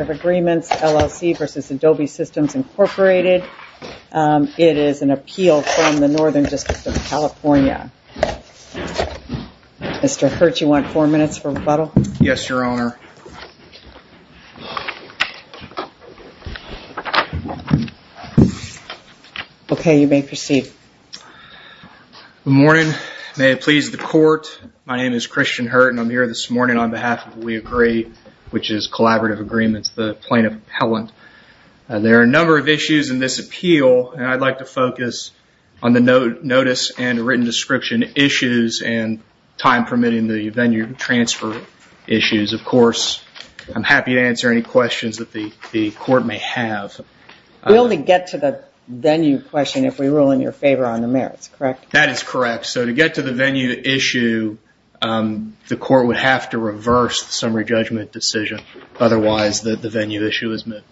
It is an appeal from the Northern District of California. Mr. Hurt, you want four minutes for rebuttal? Yes, Your Honor. Okay, you may proceed. Good morning. May it please the Court, my name is Christian Hurt and I'm here this morning on behalf of We Agree, which is Collaborative Agreements, the plaintiff appellant. There are a number of issues in this appeal and I'd like to focus on the notice and written description issues and time permitting the venue transfer issues. Of course, I'm happy to answer any questions that the Court may have. We only get to the venue question if we rule in your favor on the merits, correct? That is correct. So to get to the venue issue, the Court would have to reverse the summary judgment decision. Otherwise, the venue issue is met.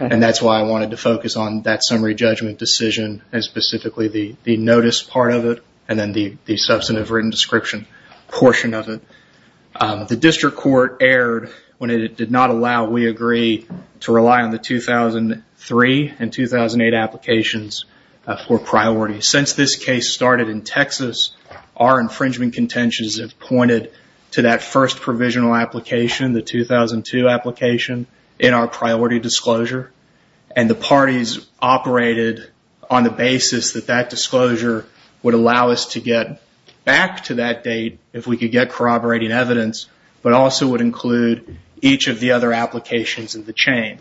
And that's why I wanted to focus on that summary judgment decision and specifically the notice part of it and then the substantive written description portion of it. The District Court erred when it did not allow We Agree to rely on the 2003 and 2008 applications for priority. Since this case started in Texas, our infringement contentions have pointed to that first provisional application, the 2002 application, in our priority disclosure. And the parties operated on the basis that that disclosure would allow us to get back to that date if we could get corroborating evidence, but also would include each of the other applications in the chain.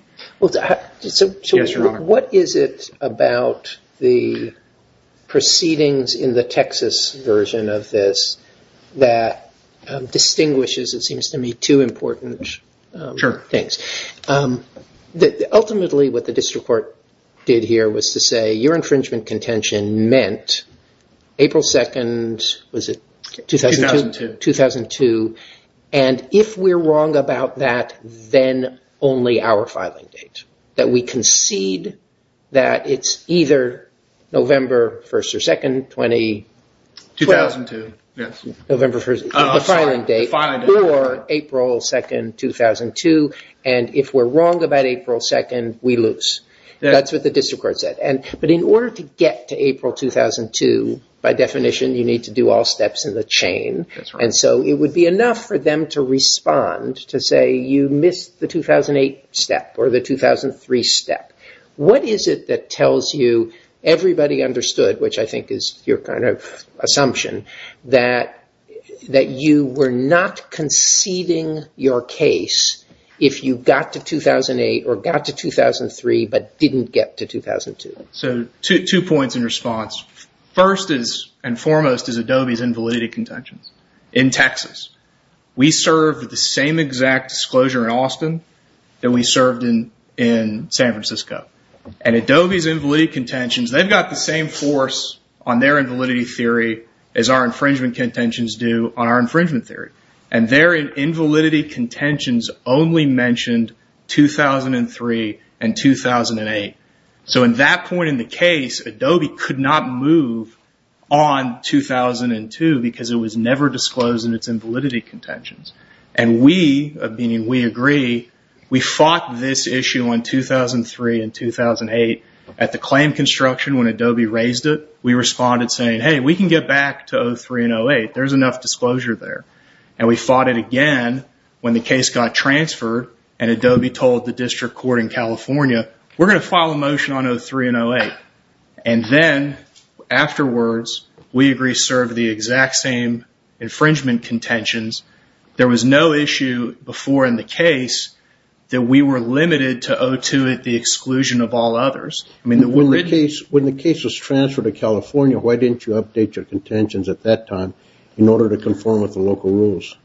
Yes, Your Honor. What is it about the proceedings in the Texas version of this that distinguishes, it seems to me, two important things? Sure. Ultimately, what the District Court did here was to say your infringement contention meant April 2nd, was it? 2002. 2002. And if we're wrong about that, then only our filing date. That we concede that it's either November 1st or 2nd, 2012. 2002, yes. November 1st, the filing date. The filing date. Or April 2nd, 2002. And if we're wrong about April 2nd, we lose. That's what the District Court said. But in order to get to April 2002, by definition, you need to do all steps in the chain. And so it would be enough for them to respond to say you missed the 2008 step or the 2003 step. What is it that tells you everybody understood, which I think is your kind of assumption, that you were not conceding your case if you got to 2008 or got to 2003 but didn't get to 2002? So two points in response. First and foremost is Adobe's invalidity contentions in Texas. We served the same exact disclosure in Austin that we served in San Francisco. And Adobe's invalidity contentions, they've got the same force on their invalidity theory as our infringement contentions do on our infringement theory. And their invalidity contentions only mentioned 2003 and 2008. So in that point in the case, Adobe could not move on 2002 because it was never disclosed in its invalidity contentions. And we, meaning we agree, we fought this issue in 2003 and 2008 at the claim construction when Adobe raised it. We responded saying, hey, we can get back to 03 and 08. There's enough disclosure there. And we fought it again when the case got transferred and Adobe told the district court in California, we're going to file a motion on 03 and 08. And then afterwards, we agreed to serve the exact same infringement contentions. There was no issue before in the case that we were limited to 02 at the exclusion of all others. When the case was transferred to California, why didn't you update your contentions at that time in order to conform with the local rules?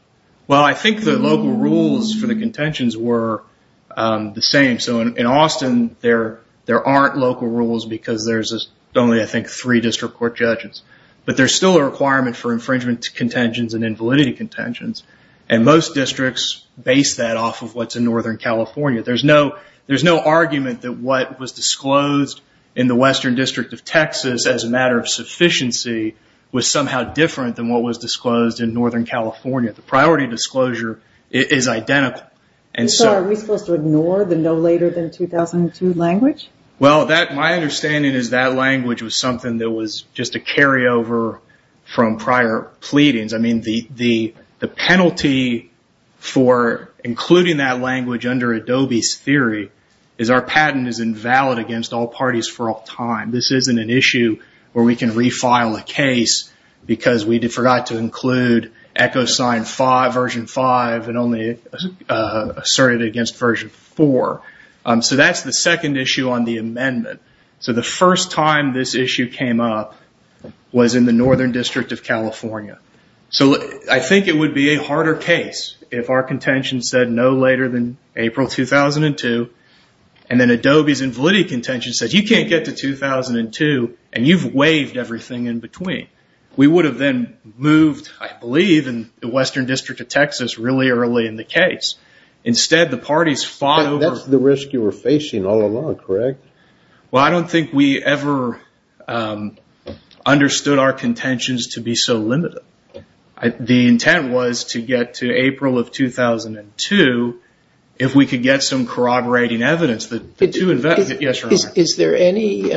Well, I think the local rules for the contentions were the same. So in Austin, there aren't local rules because there's only, I think, three district court judges. But there's still a requirement for infringement contentions and invalidity contentions. And most districts base that off of what's in Northern California. There's no argument that what was disclosed in the Western District of Texas as a matter of sufficiency was somehow different than what was disclosed in Northern California. The priority disclosure is identical. So are we supposed to ignore the no later than 2002 language? Well, my understanding is that language was something that was just a carryover from prior pleadings. I mean, the penalty for including that language under Adobe's theory is our patent is invalid against all parties for all time. This isn't an issue where we can refile a case because we forgot to include EchoSign version 5 and only asserted it against version 4. So that's the second issue on the amendment. So the first time this issue came up was in the Northern District of California. So I think it would be a harder case if our contentions said no later than April 2002 and then Adobe's invalidity contention said you can't get to 2002 and you've waived everything in between. We would have then moved, I believe, in the Western District of Texas really early in the case. Instead, the parties fought over... That's the risk you were facing all along, correct? Well, I don't think we ever understood our contentions to be so limited. The intent was to get to April of 2002. If we could get some corroborating evidence that... Yes, Your Honor. Is there any...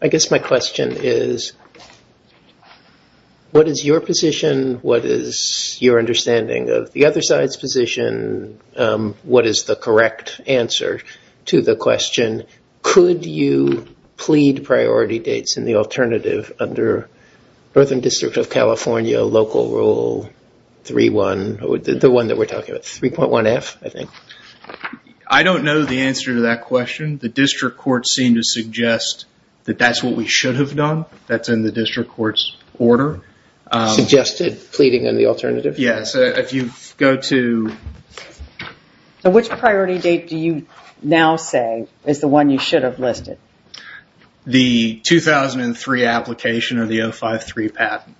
I guess my question is what is your position? What is your understanding of the other side's position? What is the correct answer to the question? Could you plead priority dates in the alternative under Northern District of California Local Rule 3.1, the one that we're talking about, 3.1F, I think? I don't know the answer to that question. The district court seemed to suggest that that's what we should have done. That's in the district court's order. Suggested pleading on the alternative? Yes. If you go to... Which priority date do you now say is the one you should have listed? The 2003 application or the 053 patent.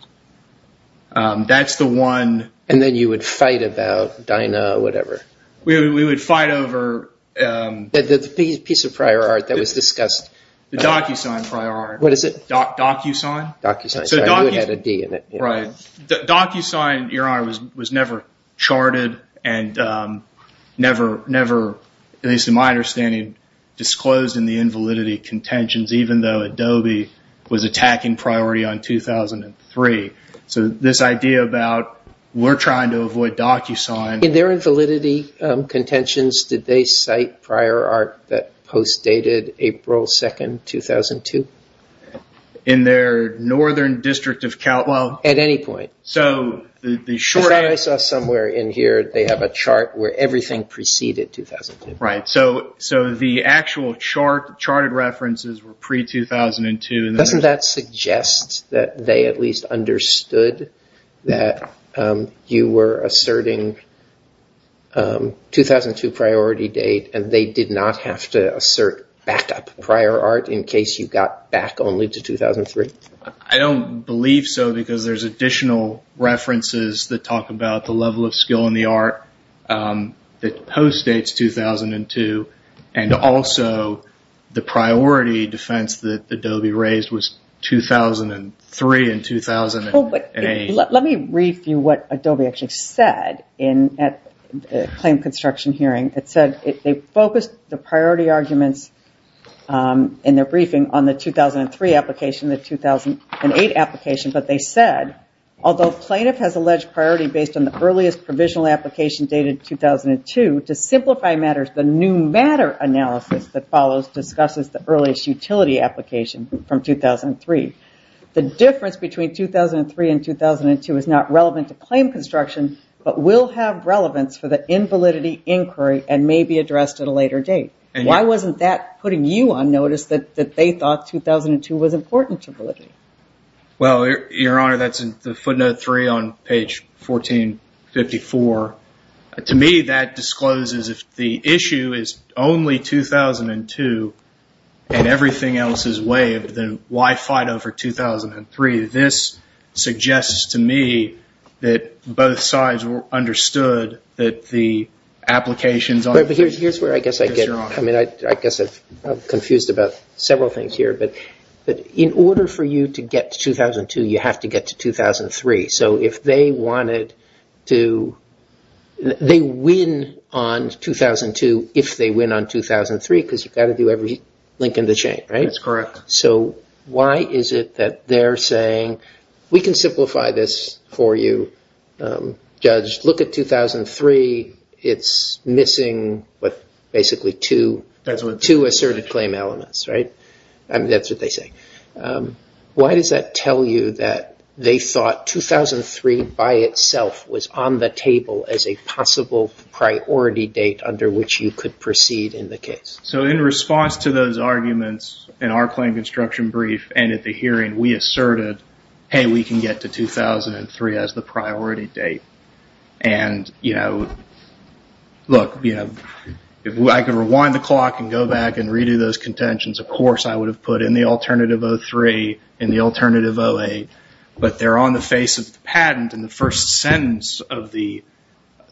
That's the one... Then you would fight about Dinah or whatever? We would fight over... The piece of prior art that was discussed. The DocuSign prior art. What is it? DocuSign? DocuSign. You had a D in it. Right. DocuSign, Your Honor, was never charted and never, at least to my understanding, disclosed in the invalidity contentions, even though Adobe was attacking priority on 2003. This idea about we're trying to avoid DocuSign... In their invalidity contentions, did they cite prior art that post-dated April 2, 2002? In their northern district of Cal... At any point. I saw somewhere in here they have a chart where everything preceded 2002. Right. The actual charted references were pre-2002. Doesn't that suggest that they at least understood that you were asserting 2002 priority date and they did not have to assert backup prior art in case you got back only to 2003? I don't believe so because there's additional references that talk about the level of skill in the art that post-dates 2002 and also the priority defense that Adobe raised was 2003 and 2008. Let me read for you what Adobe actually said at the claim construction hearing. It said they focused the priority arguments in their briefing on the 2003 application and the 2008 application, but they said, although plaintiff has alleged priority based on the earliest provisional application dated 2002, to simplify matters, the new matter analysis that follows discusses the earliest utility application from 2003. The difference between 2003 and 2002 is not relevant to claim construction, but will have relevance for the invalidity inquiry and may be addressed at a later date. Why wasn't that putting you on notice that they thought 2002 was important to validity? Well, Your Honor, that's footnote three on page 1454. To me, that discloses if the issue is only 2002 and everything else is waived, then why fight over 2003? This suggests to me that both sides understood that the applications... But here's where I guess I get... I mean, I guess I'm confused about several things here, but in order for you to get to 2002, you have to get to 2003. So if they wanted to... they win on 2002 if they win on 2003 because you've got to do every link in the chain, right? That's correct. So why is it that they're saying... we can simplify this for you, Judge. Look at 2003. It's missing basically two asserted claim elements, right? I mean, that's what they say. Why does that tell you that they thought 2003 by itself was on the table as a possible priority date under which you could proceed in the case? So in response to those arguments in our claim construction brief and at the hearing, we asserted, hey, we can get to 2003 as the priority date. And look, if I could rewind the clock and go back and redo those contentions, of course I would have put in the alternative 03, in the alternative 08, but they're on the face of the patent and the first sentence of the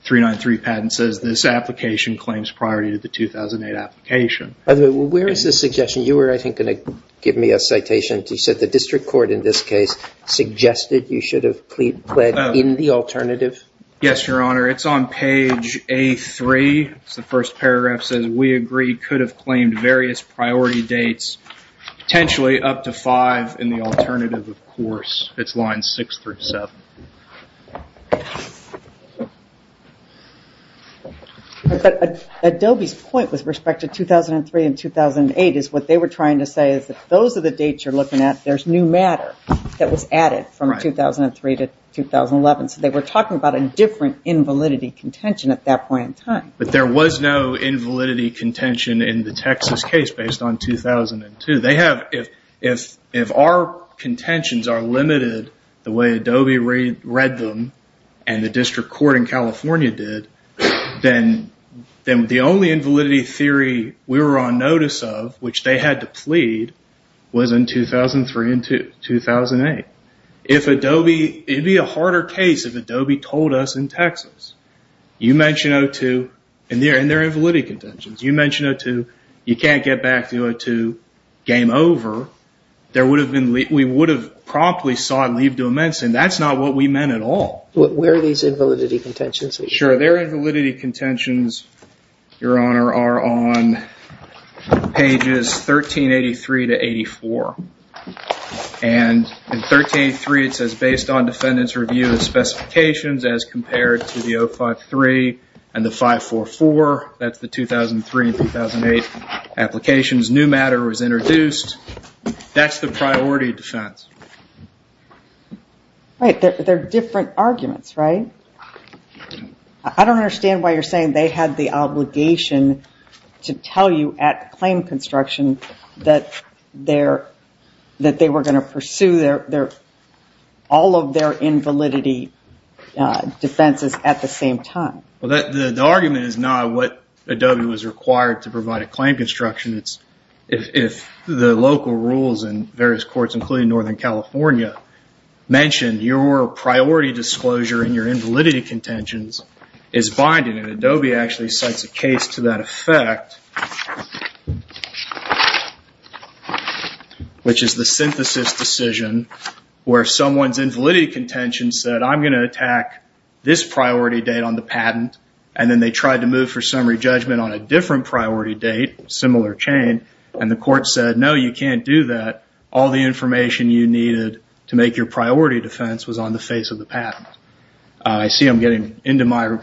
393 patent says, this application claims priority to the 2008 application. By the way, where is this suggestion? You were, I think, going to give me a citation. You said the district court in this case suggested you should have pled in the alternative. Yes, Your Honor. It's on page A3. The first paragraph says, we agree could have claimed various priority dates, potentially up to five in the alternative, of course. It's line six through seven. Adobe's point with respect to 2003 and 2008 is what they were trying to say is that those are the dates you're looking at. There's new matter that was added from 2003 to 2011. So they were talking about a different invalidity contention at that point in time. But there was no invalidity contention in the Texas case based on 2002. They have, if our contentions are limited the way Adobe read them and the district court in California did, then the only invalidity theory we were on notice of, which they had to plead, was in 2003 and 2008. If Adobe, it would be a harder case if Adobe told us in Texas, you mention 2002 and there are invalidity contentions. You mention 2002, you can't get back to 2002, game over. We would have promptly sought leave to ammend, and that's not what we meant at all. Where are these invalidity contentions? Their invalidity contentions, Your Honor, are on pages 1383 to 84. And in 1383 it says, based on defendant's review of specifications as compared to the 053 and the 544, that's the 2003 and 2008 applications, new matter was introduced. That's the priority defense. Right, they're different arguments, right? I don't understand why you're saying they had the obligation to tell you at claim construction that they were going to pursue all of their invalidity defenses at the same time. The argument is not what Adobe was required to provide at claim construction. It's if the local rules and various courts, including Northern California, mentioned your priority disclosure and your invalidity contentions is binding. And Adobe actually cites a case to that effect, which is the synthesis decision where someone's invalidity contentions said, I'm going to attack this priority date on the patent, and then they tried to move for summary judgment on a different priority date, similar chain, and the court said, no, you can't do that. All the information you needed to make your priority defense was on the face of the patent. I see I'm getting into my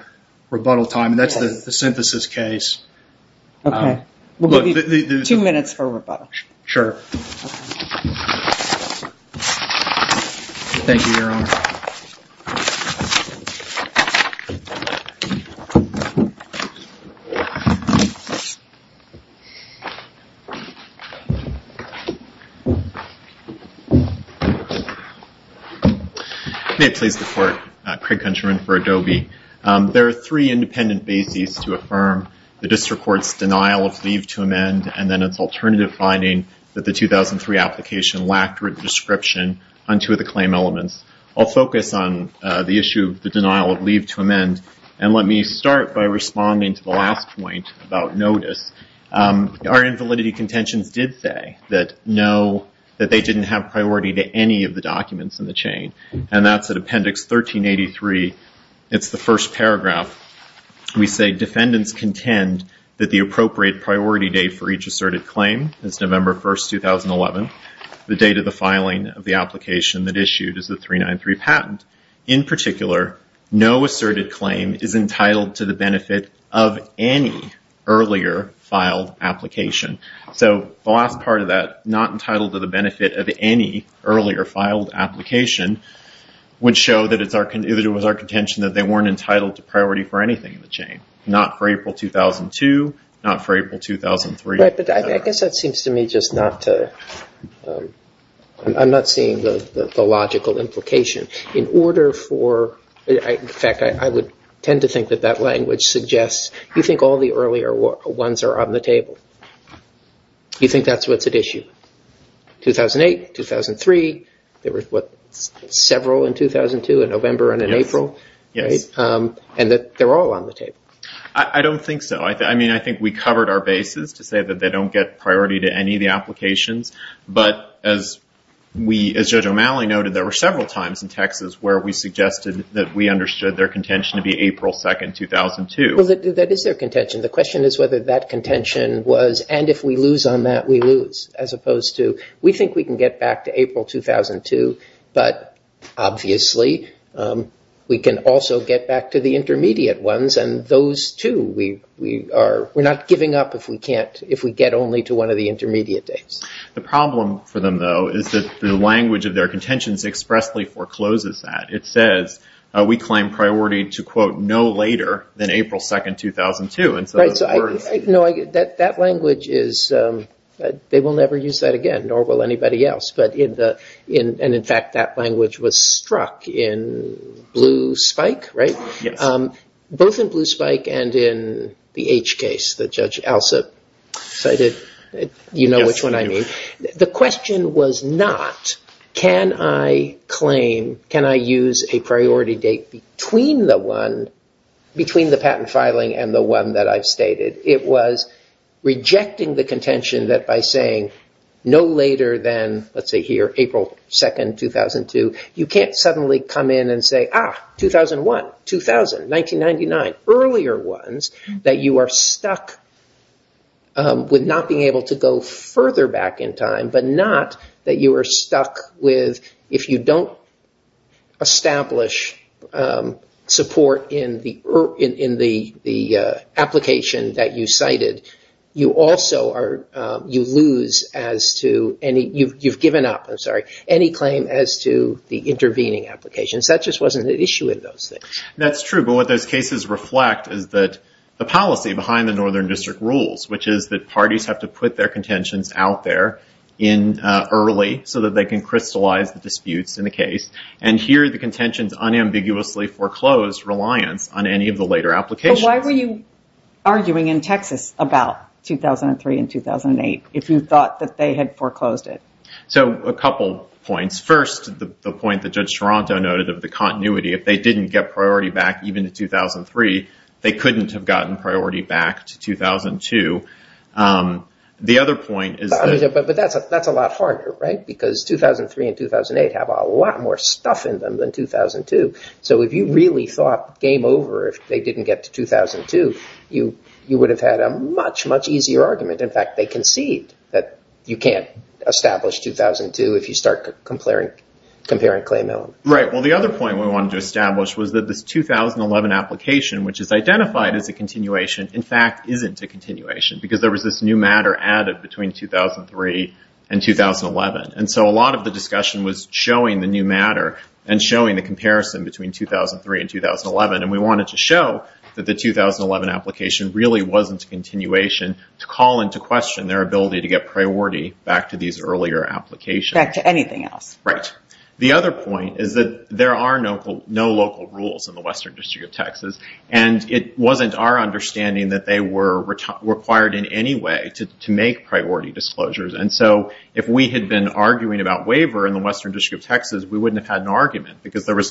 rebuttal time, and that's the synthesis case. Two minutes for rebuttal. Thank you, Your Honor. May it please the Court, Craig Countryman for Adobe. There are three independent bases to affirm the district court's denial of leave to amend, and then its alternative finding that the 2003 application lacked written description on two of the claim elements. The issue of the denial of leave to amend, and let me start by responding to the last point about notice. Our invalidity contentions did say that no, that they didn't have priority to any of the documents in the chain, and that's at Appendix 1383. It's the first paragraph. We say defendants contend that the appropriate priority date for each asserted claim is November 1, 2011. The date of the filing of the application that issued is the 393 patent. In particular, no asserted claim is entitled to the benefit of any earlier filed application. So the last part of that, not entitled to the benefit of any earlier filed application, would show that it was our contention that they weren't entitled to priority for anything in the chain, not for April 2002, not for April 2003. Right, but I guess that seems to me just not to, I'm not seeing the logical implication. In order for, in fact, I would tend to think that that language suggests, you think all the earlier ones are on the table. You think that's what's at issue? 2008, 2003, there were several in 2002, a November and an April. Yes. And that they're all on the table. I don't think so. I mean, I think we covered our bases to say that they don't get priority to any of the applications. But as Judge O'Malley noted, there were several times in Texas where we suggested that we understood their contention to be April 2, 2002. That is their contention. The question is whether that contention was, and if we lose on that, we lose, as opposed to we think we can get back to April 2002, but obviously we can also get back to the intermediate ones, and those two we are not giving up if we can't, if we get only to one of the intermediate dates. The problem for them, though, is that the language of their contentions expressly forecloses that. It says we claim priority to, quote, no later than April 2, 2002. Right. No, that language is, they will never use that again, nor will anybody else. And, in fact, that language was struck in Blue Spike, right? Yes. Both in Blue Spike and in the H case that Judge Alsop cited, you know which one I mean. The question was not can I claim, can I use a priority date between the one, between the patent filing and the one that I've stated. It was rejecting the contention that by saying no later than, let's say here, April 2, 2002, you can't suddenly come in and say, ah, 2001, 2000, 1999, earlier ones, that you are stuck with not being able to go further back in time, but not that you are stuck with if you don't establish support in the application that you cited, you also are, you lose as to any, you've given up, I'm sorry, any claim as to the intervening applications. That just wasn't an issue in those things. That's true, but what those cases reflect is that the policy behind the Northern District rules, which is that parties have to put their contentions out there in early so that they can crystallize the disputes in the case, and here the contentions unambiguously foreclose reliance on any of the later applications. So why were you arguing in Texas about 2003 and 2008 if you thought that they had foreclosed it? So a couple points. First, the point that Judge Toronto noted of the continuity, if they didn't get priority back even to 2003, they couldn't have gotten priority back to 2002. The other point is that… But that's a lot harder, right, because 2003 and 2008 have a lot more stuff in them than 2002. So if you really thought game over if they didn't get to 2002, you would have had a much, much easier argument. In fact, they conceded that you can't establish 2002 if you start comparing claim elements. Right. Well, the other point we wanted to establish was that this 2011 application, which is identified as a continuation, in fact isn't a continuation because there was this new matter added between 2003 and 2011. And so a lot of the discussion was showing the new matter and showing the comparison between 2003 and 2011. And we wanted to show that the 2011 application really wasn't a continuation to call into question their ability to get priority back to these earlier applications. Back to anything else. Right. The other point is that there are no local rules in the Western District of Texas, and it wasn't our understanding that they were required in any way to make priority disclosures. And so if we had been arguing about waiver in the Western District of Texas, we wouldn't have had an argument because there were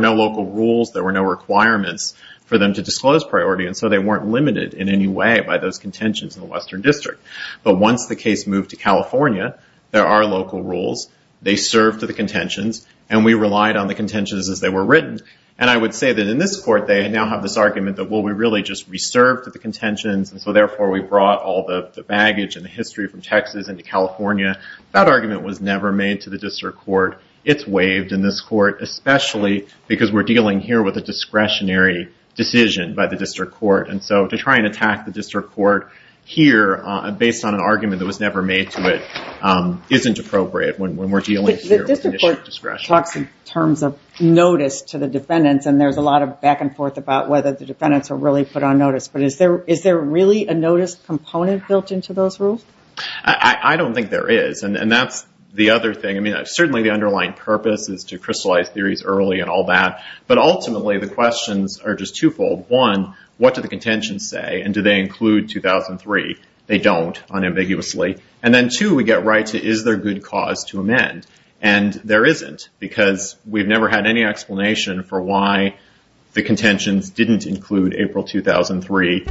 no local rules. There were no requirements for them to disclose priority, and so they weren't limited in any way by those contentions in the Western District. But once the case moved to California, there are local rules. They serve to the contentions, and we relied on the contentions as they were written. And I would say that in this court they now have this argument that, well, we really just reserve to the contentions, and so therefore we brought all the baggage and the history from Texas into California. That argument was never made to the district court. It's waived in this court, especially because we're dealing here with a discretionary decision by the district court. And so to try and attack the district court here based on an argument that was never made to it isn't appropriate when we're dealing here with an issue of discretion. But the district court talks in terms of notice to the defendants, and there's a lot of back and forth about whether the defendants are really put on notice. But is there really a notice component built into those rules? I don't think there is, and that's the other thing. I mean, certainly the underlying purpose is to crystallize theories early and all that, but ultimately the questions are just twofold. One, what do the contentions say, and do they include 2003? They don't, unambiguously. And then two, we get right to, is there good cause to amend? And there isn't, because we've never had any explanation for why the contentions didn't include April 2003.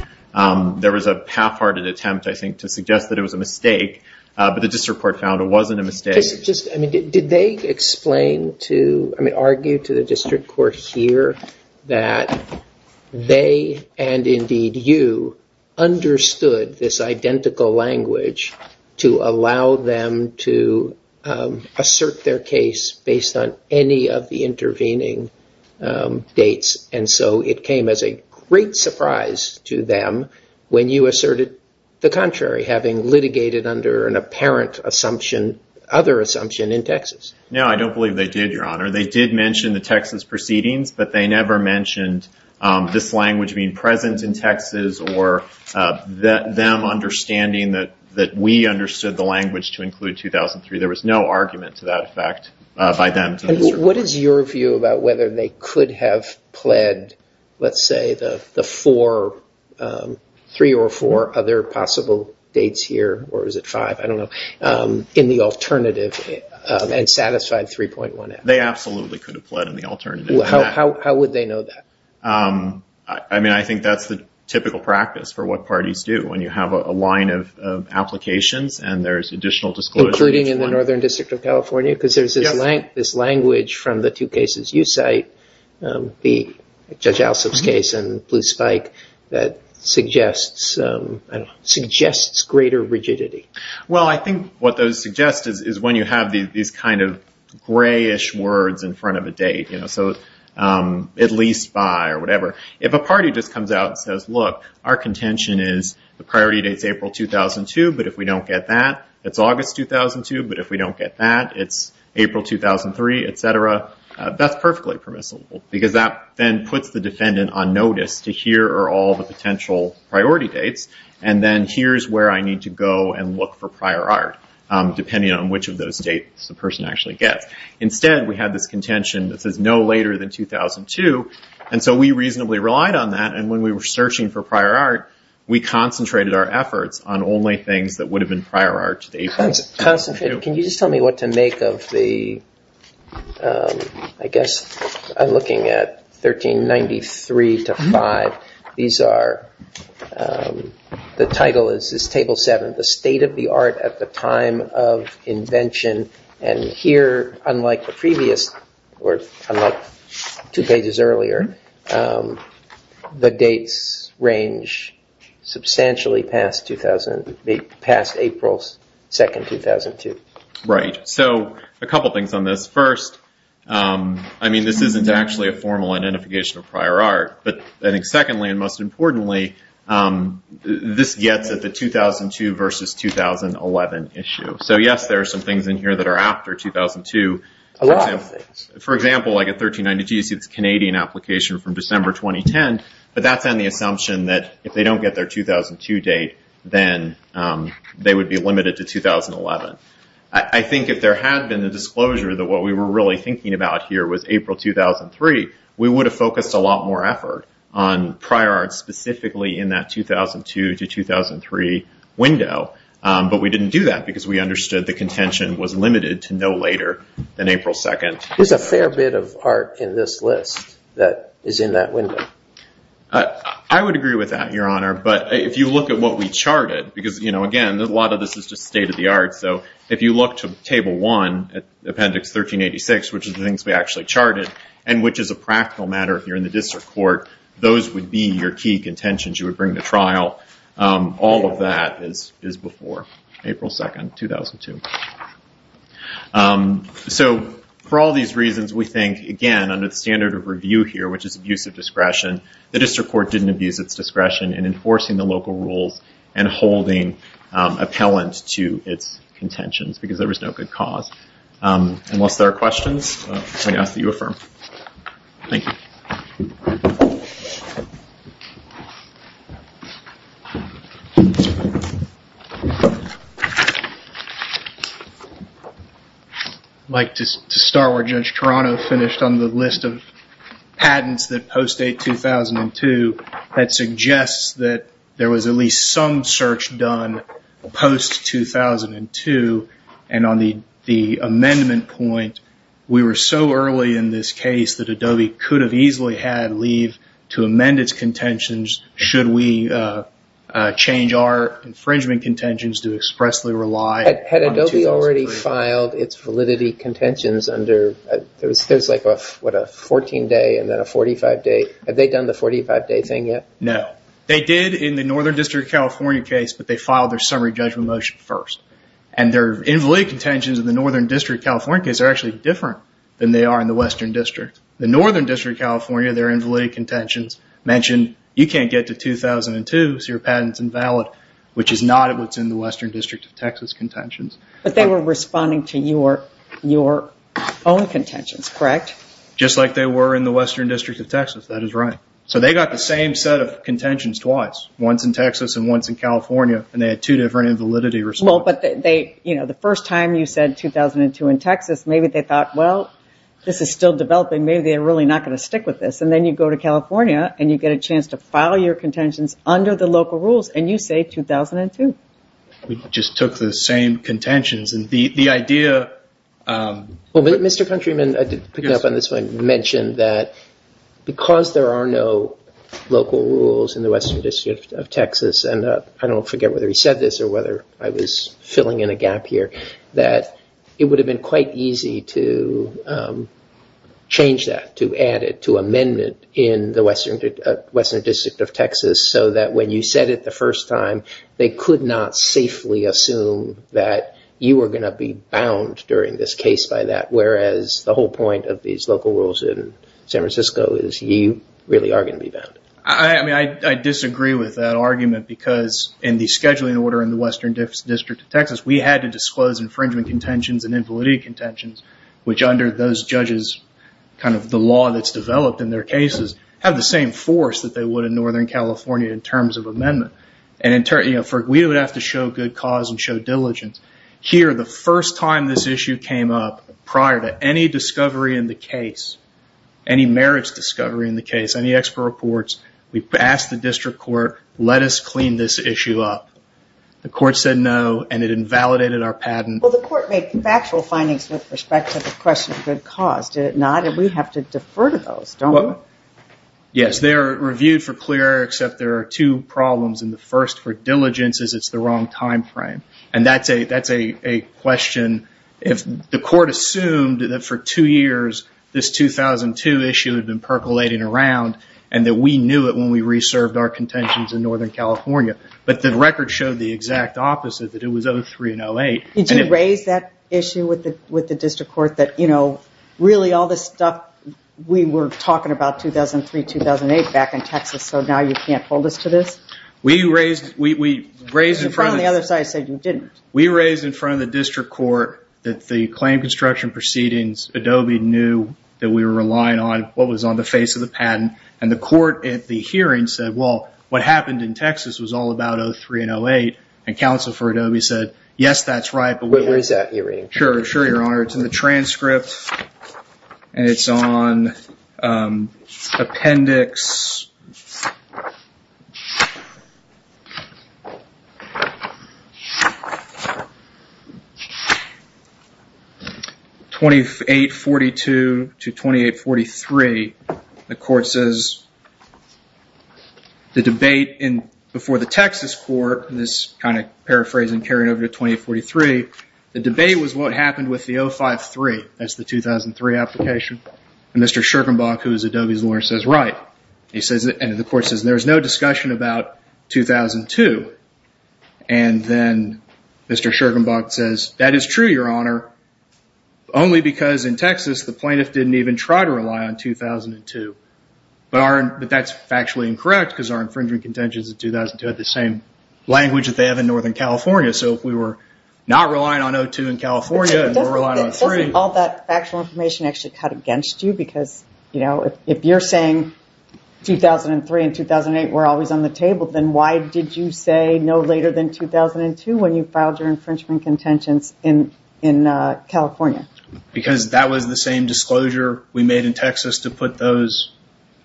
There was a half-hearted attempt, I think, to suggest that it was a mistake, but the district court found it wasn't a mistake. Did they explain to, I mean, argue to the district court here that they, and indeed you, understood this identical language to allow them to assert their case based on any of the intervening dates, and so it came as a great surprise to them when you asserted the contrary, having litigated under an apparent assumption, other assumption in Texas. No, I don't believe they did, Your Honor. They did mention the Texas proceedings, but they never mentioned this language being present in Texas or them understanding that we understood the language to include 2003. There was no argument to that effect by them to the district court. What is your view about whether they could have pled, let's say, the three or four other possible dates here, or is it five, I don't know, in the alternative and satisfied 3.1F? They absolutely could have pled in the alternative. How would they know that? I mean, I think that's the typical practice for what parties do, when you have a line of applications and there's additional disclosure. Including in the Northern District of California? Yes. Because there's this language from the two cases you cite, Judge Alsop's case and Blue Spike, that suggests greater rigidity. Well, I think what those suggest is when you have these kind of grayish words in front of a date, so at least by or whatever. If a party just comes out and says, look, our contention is the priority date is April 2002, but if we don't get that, it's August 2002, but if we don't get that, it's April 2003, et cetera. That's perfectly permissible, because that then puts the defendant on notice to here are all the potential priority dates, and then here's where I need to go and look for prior art, depending on which of those dates the person actually gets. Instead, we had this contention that says no later than 2002, and so we reasonably relied on that, and when we were searching for prior art, we concentrated our efforts on only things that would have been prior art to April. Concentrate. Can you just tell me what to make of the, I guess I'm looking at 1393 to 5. These are, the title is Table 7, The State of the Art at the Time of Invention, and here, unlike the previous, or unlike two pages earlier, the dates range substantially past April 2, 2002. Right. So a couple things on this. First, I mean, this isn't actually a formal identification of prior art, but I think secondly and most importantly, this gets at the 2002 versus 2011 issue. So yes, there are some things in here that are after 2002. A lot of things. For example, like at 1392, you see this Canadian application from December 2010, but that's on the assumption that if they don't get their 2002 date, then they would be limited to 2011. I think if there had been the disclosure that what we were really thinking about here was April 2003, we would have focused a lot more effort on prior art specifically in that 2002 to 2003 window, but we didn't do that because we understood the contention was limited to no later than April 2. There's a fair bit of art in this list that is in that window. I would agree with that, Your Honor, but if you look at what we charted, because, you know, again, a lot of this is just state of the art, so if you look to Table 1, Appendix 1386, which is the things we actually charted and which is a practical matter if you're in the district court, those would be your key contentions you would bring to trial. All of that is before April 2, 2002. For all these reasons, we think, again, under the standard of review here, which is abuse of discretion, the district court didn't abuse its discretion in enforcing the local rules and holding appellant to its contentions because there was no good cause. Unless there are questions, I'm going to ask that you affirm. Thank you. Mike, to start where Judge Toronto finished on the list of patents that post-date 2002, that suggests that there was at least some search done post-2002, and on the amendment point, we were so early in this case that Adobe could have easily had leave to amend its contentions should we change our infringement contentions to expressly rely on 2003. Had Adobe already filed its validity contentions under – there's like a 14-day and then a 45-day. Have they done the 45-day thing yet? No. They did in the Northern District of California case, but they filed their summary judgment motion first. Their invalid contentions in the Northern District of California case are actually different than they are in the Western District. In the Northern District of California, their invalid contentions mention you can't get to 2002, so your patent is invalid, which is not what's in the Western District of Texas contentions. But they were responding to your own contentions, correct? Just like they were in the Western District of Texas. That is right. So they got the same set of contentions twice, once in Texas and once in California, and they had two different invalidity responses. The first time you said 2002 in Texas, maybe they thought, well, this is still developing. Maybe they're really not going to stick with this. And then you go to California and you get a chance to file your contentions under the local rules, and you say 2002. We just took the same contentions. Mr. Countryman, picking up on this one, mentioned that because there are no local rules in the Western District of Texas – I don't forget whether he said this or whether I was filling in a gap here – that it would have been quite easy to change that, to add it to amendment in the Western District of Texas, so that when you said it the first time, they could not safely assume that you were going to be bound during this case by that, whereas the whole point of these local rules in San Francisco is you really are going to be bound. I disagree with that argument because in the scheduling order in the Western District of Texas, we had to disclose infringement contentions and invalidity contentions, which under those judges, the law that's developed in their cases, have the same force that they would in Northern California in terms of amendment. We would have to show good cause and show diligence. Here, the first time this issue came up, prior to any discovery in the case, any marriage discovery in the case, any expert reports, we asked the district court, let us clean this issue up. The court said no, and it invalidated our patent. Well, the court made factual findings with respect to the question of good cause, did it not? And we have to defer to those, don't we? Yes, they are reviewed for clear, except there are two problems, and the first for diligence is it's the wrong time frame. And that's a question, if the court assumed that for two years, this 2002 issue had been percolating around, and that we knew it when we reserved our contentions in Northern California, but the record showed the exact opposite, that it was 03 and 08. Did you raise that issue with the district court that really all this stuff, we were talking about 2003, 2008 back in Texas, so now you can't hold us to this? We raised in front of the district court that the claim construction proceedings, Adobe knew that we were relying on what was on the face of the patent, and the court at the hearing said, well, what happened in Texas was all about 03 and 08, and counsel for Adobe said, yes, that's right. Where is that hearing? Sure, Your Honor. It's in the transcript, and it's on appendix 2842 to 2843. The court says the debate before the Texas court, and this kind of paraphrasing carried over to 2843, the debate was what happened with the 053, that's the 2003 application, and Mr. Schergenbach, who is Adobe's lawyer, says, right, and the court says there was no discussion about 2002, and then Mr. Schergenbach says, that is true, Your Honor, only because in Texas the plaintiff didn't even try to rely on 2002, but that's factually incorrect because our infringement contentions in 2002 had the same language that they have in Northern California, so if we were not relying on 02 in California and we're relying on 03. Doesn't all that factual information actually cut against you because, you know, if you're saying 2003 and 2008 were always on the table, then why did you say no later than 2002 when you filed your infringement contentions in California? Because that was the same disclosure we made in Texas to put those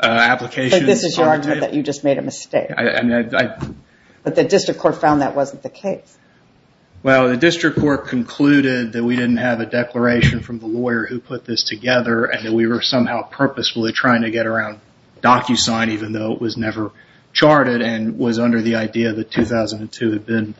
applications on the table. But this is your argument that you just made a mistake. But the district court found that wasn't the case. Well, the district court concluded that we didn't have a declaration from the lawyer who put this together and that we were somehow purposefully trying to get around DocuSign even though it was never charted and was under the idea that 2002 had been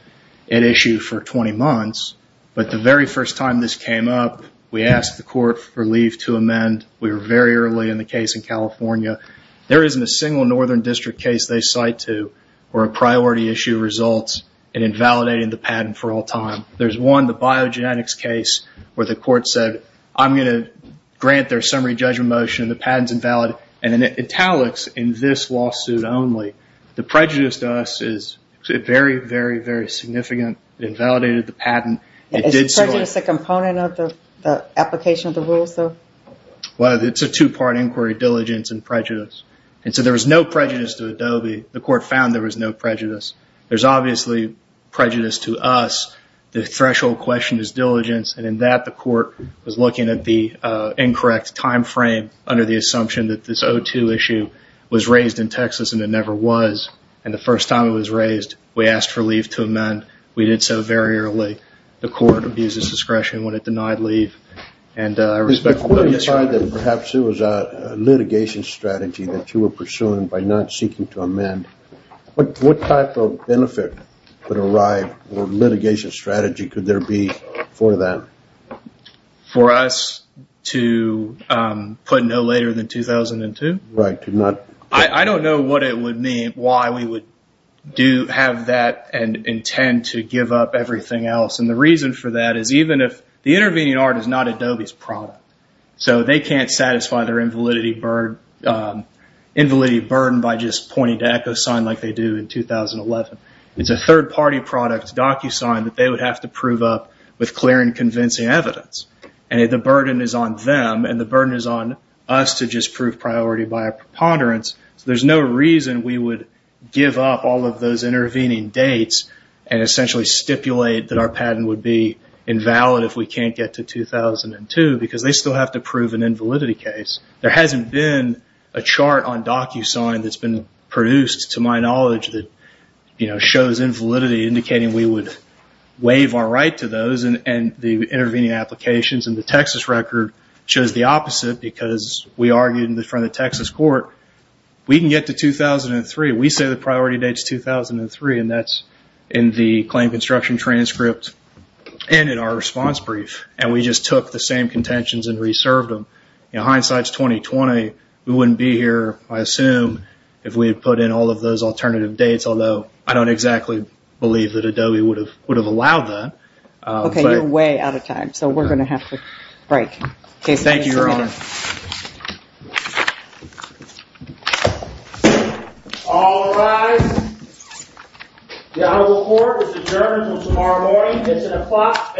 at issue for 20 months, but the very first time this came up, we asked the court for leave to amend. We were very early in the case in California. There isn't a single Northern district case they cite to where a priority issue results in invalidating the patent for all time. There's one, the biogenetics case, where the court said, I'm going to grant their summary judgment motion, the patent's invalid, and it italics in this lawsuit only. The prejudice to us is very, very, very significant. It invalidated the patent. Is prejudice a component of the application of the rules, though? Well, it's a two-part inquiry, diligence and prejudice. And so there was no prejudice to Adobe. The court found there was no prejudice. There's obviously prejudice to us. The threshold question is diligence, and in that the court was looking at the incorrect time frame under the assumption that this 02 issue was raised in Texas and it never was. And the first time it was raised, we asked for leave to amend. We did so very early. The court abuses discretion when it denied leave. The court decided that perhaps it was a litigation strategy that you were pursuing by not seeking to amend. What type of benefit would arrive or litigation strategy could there be for that? For us to put no later than 2002? Right. I don't know what it would mean, why we would have that and intend to give up everything else. And the reason for that is even if the intervening art is not Adobe's product, so they can't satisfy their invalidity burden by just pointing to EchoSign like they do in 2011. It's a third-party product, DocuSign, that they would have to prove up with clear and convincing evidence. And the burden is on them, and the burden is on us to just prove priority by a preponderance. So there's no reason we would give up all of those intervening dates and essentially stipulate that our patent would be invalid if we can't get to 2002 because they still have to prove an invalidity case. There hasn't been a chart on DocuSign that's been produced, to my knowledge, that shows invalidity indicating we would waive our right to those and the intervening applications in the Texas record shows the opposite because we argued in front of the Texas court we can get to 2003. We say the priority date is 2003, and that's in the claim construction transcript and in our response brief, and we just took the same contentions and reserved them. In hindsight, it's 2020. We wouldn't be here, I assume, if we had put in all of those alternative dates, although I don't exactly believe that Adobe would have allowed that. Okay, you're way out of time, so we're going to have to break. Thank you, Your Honor. All rise. The Honorable Court is adjourned until tomorrow morning, 6 o'clock a.m.